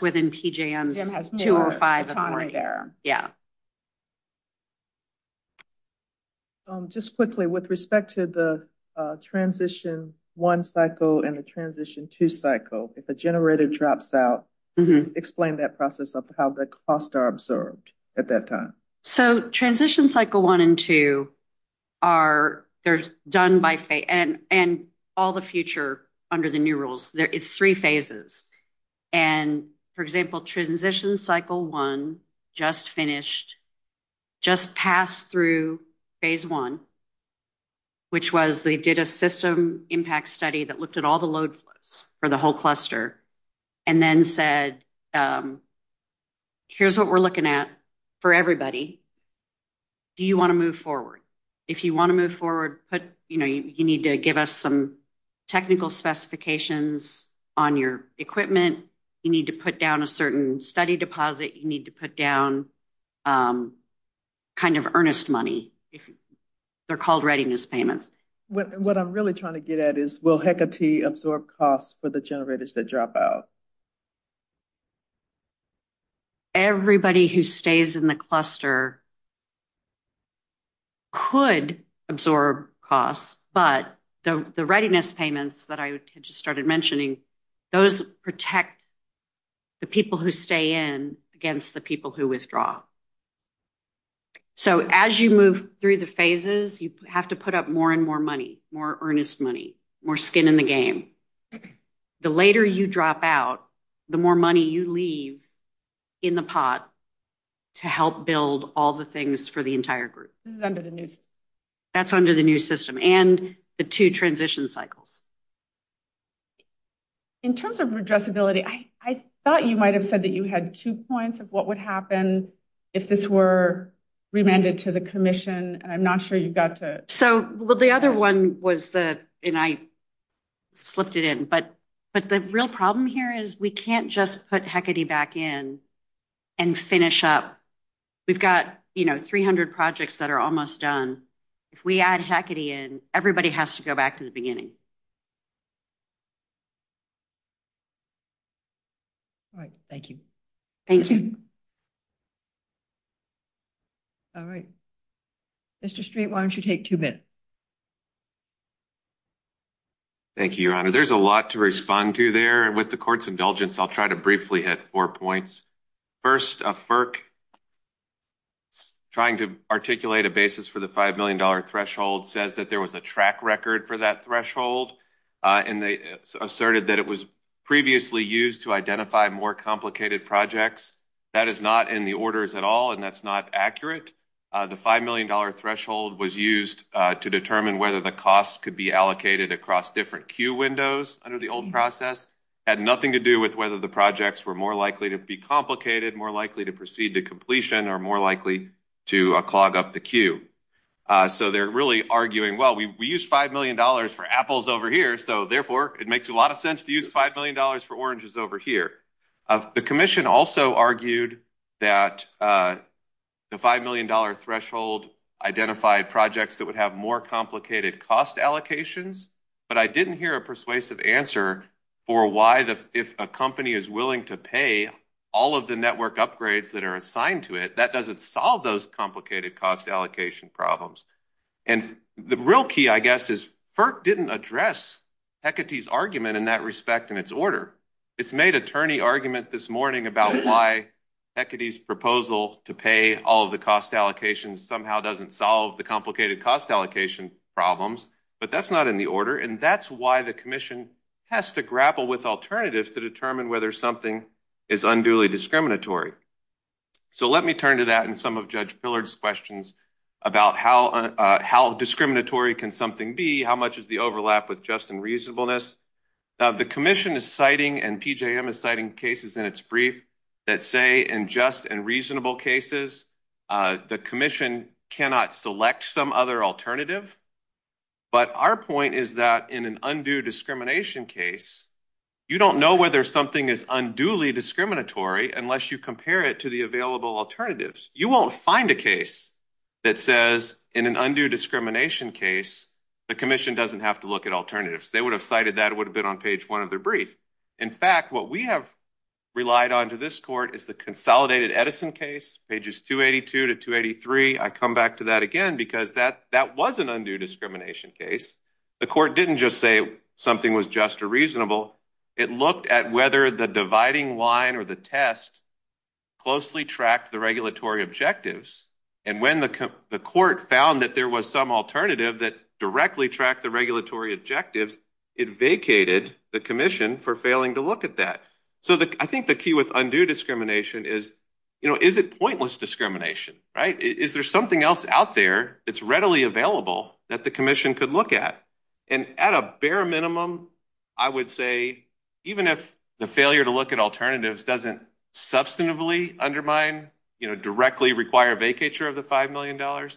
within PJM's two or five authority. PJM has more autonomy there. Just quickly, with respect to the transition one cycle and the transition two cycle, if a generator drops out, explain that process of how the costs are observed at that time. So, transition cycle one and two are, they're done by, and all the future under the new rules, it's three phases. And, for example, transition cycle one just finished, just passed through phase one, which was they did a system impact study that looked at all the load flows for the Do you want to move forward? If you want to move forward, put, you know, you need to give us some technical specifications on your equipment. You need to put down a certain study deposit. You need to put down kind of earnest money. They're called readiness payments. What I'm really trying to get at is will HECA T absorb costs for the generators that drop out? Everybody who stays in the cluster could absorb costs, but the readiness payments that I had just started mentioning, those protect the people who stay in against the people who withdraw. So, as you move through the phases, you have to put up more and more money, more earnest money, more skin in the game. The later you drop out, the more money you leave in the pot to help build all the things for the entire group. This is under the new system. That's under the new system and the two transition cycles. In terms of addressability, I thought you might have said that you had two points of what would happen if this were remanded to the commission. I'm not sure you got to. So, well, the other one was that, and I slipped it in, but the real problem here is we can't just put HECA T back in and finish up. We've got, you know, 300 projects that are almost done. If we add HECA T in, everybody has to go back to the beginning. All right. Thank you. Thank you. All right. Mr. Street, why don't you take two minutes? Thank you, Your Honor. There's a lot to respond to there. With the court's indulgence, I'll try to briefly hit four points. First, a FERC trying to articulate a basis for the $5 million threshold says that there was a track record for that threshold, and they asserted that it was previously used to identify more complicated projects. That is not in the orders at all, and that's not accurate. The $5 million threshold was used to determine whether the costs could be allocated across different queue windows under the old process. It had nothing to do with whether the projects were more likely to be complicated, more likely to proceed to completion, or more likely to clog up the queue. So they're really arguing, well, we used $5 million for apples over here, so therefore it makes a lot of sense to use $5 million for oranges over here. The commission also argued that the $5 million threshold identified projects that would have more complicated cost allocations, but I didn't hear a persuasive answer for why, if a company is willing to pay all of the network upgrades that are assigned to it, that doesn't solve those complicated cost allocation problems. And the real key, I guess, is FERC didn't address Hecate's argument in that respect in its order. It's made attorney argument this morning about why Hecate's proposal to pay all of the cost allocations somehow doesn't solve the complicated cost allocation problems, but that's not in the order, and that's why the commission has to grapple with alternatives to determine whether something is unduly discriminatory. So let me turn to that and some of Judge Pillard's questions about how discriminatory can something be, how much is the overlap with just and reasonableness. The commission is citing, and PJM is citing cases in its brief that say in just and reasonable cases, the commission cannot select some other alternative, but our point is that in an undue discrimination case, you don't know whether something is unduly discriminatory unless you compare it to the available alternatives. You won't find a case that says in an undue discrimination case, the commission doesn't have to look at alternatives. They would have cited that. It would have been on page one of their brief. In fact, what we have relied on to this court is the consolidated Edison case, pages 282 to 283. I come back to that again because that that was an undue discrimination case. The court didn't just say something was just or reasonable. It looked at whether the dividing line or the test closely tracked the objectives. When the court found that there was some alternative that directly tracked the regulatory objectives, it vacated the commission for failing to look at that. I think the key with undue discrimination is, is it pointless discrimination? Is there something else out there that's readily available that the commission could look at? At a bare minimum, I would say even if the failure to look at alternatives doesn't substantively undermine, you know, directly require vacature of the $5 million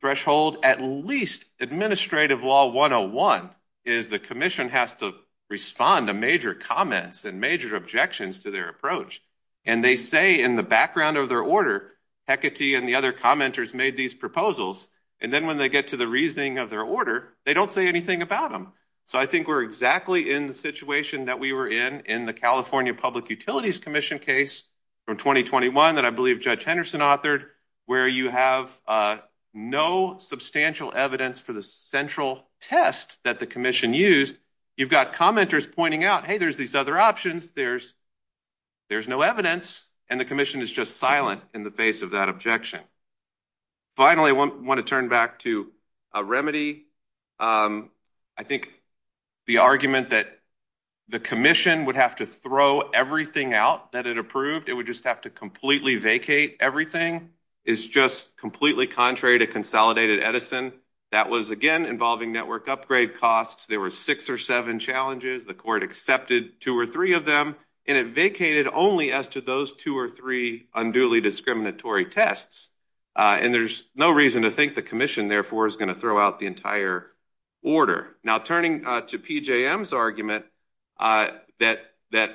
threshold, at least administrative law 101 is the commission has to respond to major comments and major objections to their approach. And they say in the background of their order, Hecate and the other commenters made these proposals. And then when they get to the reasoning of their order, they don't say anything about them. So I think we're exactly in the situation that we were in, in the California Public Utilities Commission case from 2021 that I believe Judge Henderson authored, where you have no substantial evidence for the central test that the commission used. You've got commenters pointing out, hey, there's these other options. There's no evidence. And the commission is just silent in the face of that objection. Finally, I want to turn back to a remedy. I think the argument that the commission would have to throw everything out that it approved, it would just have to completely vacate everything is just completely contrary to consolidated Edison. That was again involving network upgrade costs. There were six or seven challenges. The court accepted two or three of them, and it vacated only as to those two or three unduly discriminatory tests. And there's no reason to think the commission therefore is going to throw out the entire order. Now, turning to PJM's argument that,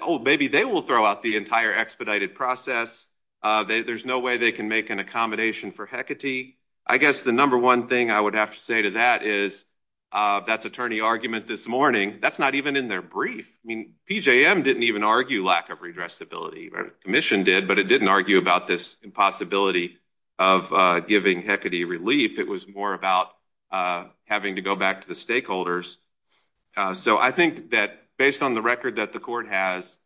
oh, maybe they will throw out the entire expedited process. There's no way they can make an accommodation for Hecate. I guess the number one thing I would have to say to that is that's attorney argument this morning. That's not even in their brief. I mean, PJM didn't even argue lack of redressability. The commission did, but it didn't argue about this impossibility of giving Hecate relief. It was more about having to go back to the stakeholders. So I think that based on the record that the court has,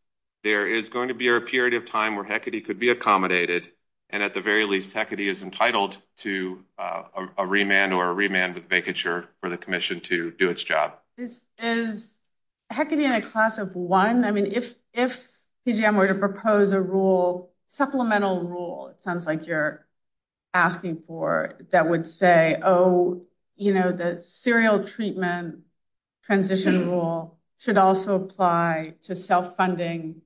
there is going to be a period of time where Hecate could be accommodated. And at the very least, Hecate is entitled to a remand or remand with vacature for the commission to do its job. This is Hecate in a class of one. I mean, if PJM were to propose a rule, supplemental rule, it sounds like you're asking for that would say, oh, you know, the serial treatment transition rule should also apply to self-funding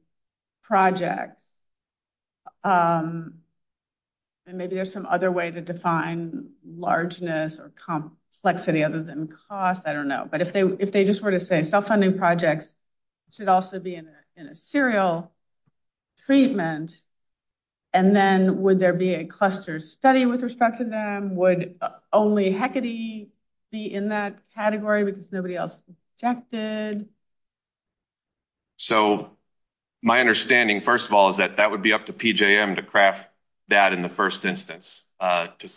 projects. And maybe there's some other way to define largeness or complexity other than cost. I don't know. But if they just were to say self-funding projects should also be in a serial treatment, and then would there be a cluster study with respect to them? Would only Hecate be in that category because nobody else objected? So my understanding, first of all, is that that would be up to PJM to craft that in the first instance. But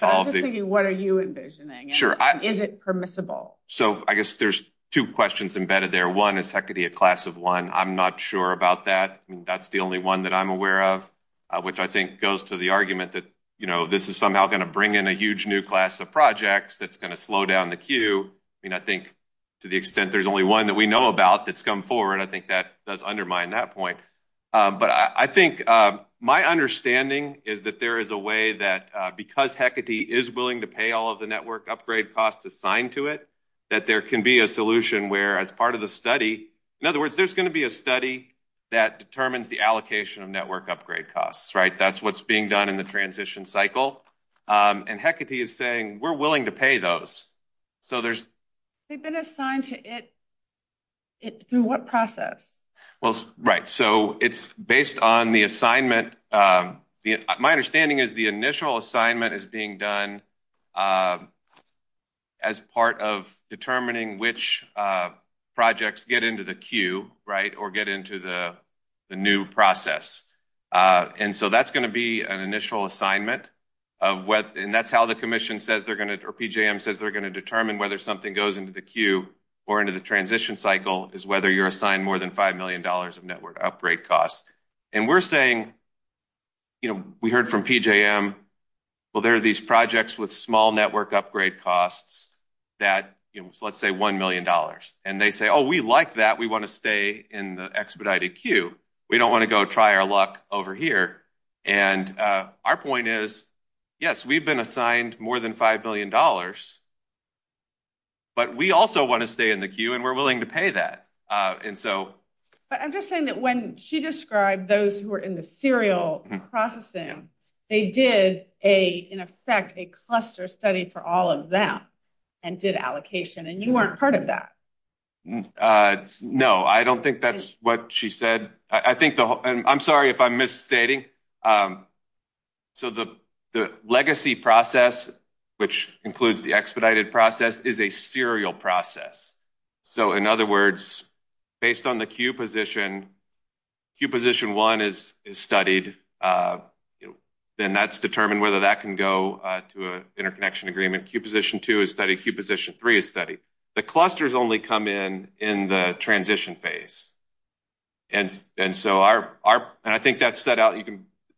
I'm just thinking, what are you envisioning? Sure. Is it permissible? So I guess there's two questions embedded there. One is Hecate a class of one. I'm not sure about that. I mean, that's the only one that I'm aware of, which I think goes to the argument that, you know, this is somehow going to bring in a huge new class of projects that's going to slow down the queue. I mean, I think to the extent there's only one that we know about that's come forward, I think that does undermine that point. But I think my understanding is that there is a way that because Hecate is willing to pay all of the network upgrade costs assigned to it, that there can be a solution where as part of the study, in other words, there's going to be a study that determines the allocation of network upgrade costs, right? That's what's being done in the transition cycle. And Hecate is saying we're willing to pay those. So there's... They've been assigned to it through what process? Well, right. So it's based on the assignment. My understanding is the initial assignment is being done as part of determining which projects get into the queue, right, or get into the new process. And so that's going to be an initial assignment of what... And that's how the commission says they're going to... Or PJM says they're going to determine whether something goes into the queue or into the transition cycle is whether you're assigned more than $5 million of network upgrade costs. And we're saying, you know, we heard from PJM, well, there are these projects with small network upgrade costs that, you know, let's say $1 million. And they say, oh, we like that. We want to stay in the expedited queue. We don't want to go try our luck over here. And our point is, yes, we've been assigned more than $5 million, but we also want to stay in the queue and we're willing to pay that. And so... But I'm just saying that when she described those who were in the serial processing, they did, in effect, a cluster study for all of them and did allocation. And you weren't part of that. No, I don't think that's what she said. I think the whole... And I'm sorry if I'm misstating. So the legacy process, which includes the expedited process, is a serial process. So in other words, based on the queue position, queue position one is studied. Then that's determined whether that can go to an interconnection agreement. Queue position two is studied. Queue position three is studied. The clusters only come in in the transition phase. And so our... And I think that's set out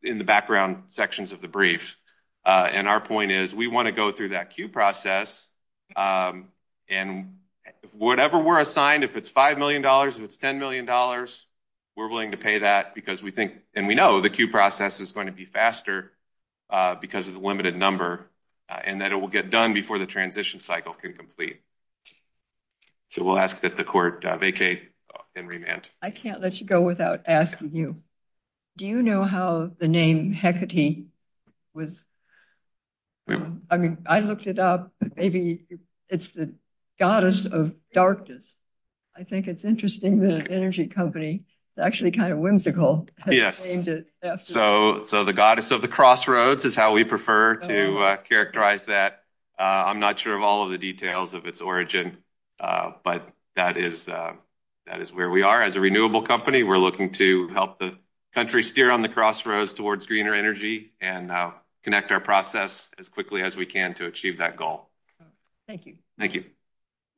in the background sections of the brief. And our point is we want to go through that queue process. And whatever we're assigned, if it's $5 million, if it's $10 million, we're willing to pay that because we think... And we know the queue process is going to be faster because of the limited number and that it will get done before the transition cycle can complete. So we'll ask that the court vacate and remand. I can't let you go without asking you. Do you know how the name Hecate was... I mean, I looked it up. Maybe it's the goddess of darkness. I think it's interesting that an energy company... It's actually kind of whimsical. Yes. So the goddess of the crossroads is how we prefer to characterize that. I'm not sure of all of the details of its origin, but that is where we are. As a renewable company, we're looking to help the country steer on the crossroads towards greener energy and connect our process as quickly as we can to achieve that goal. Thank you. Thank you.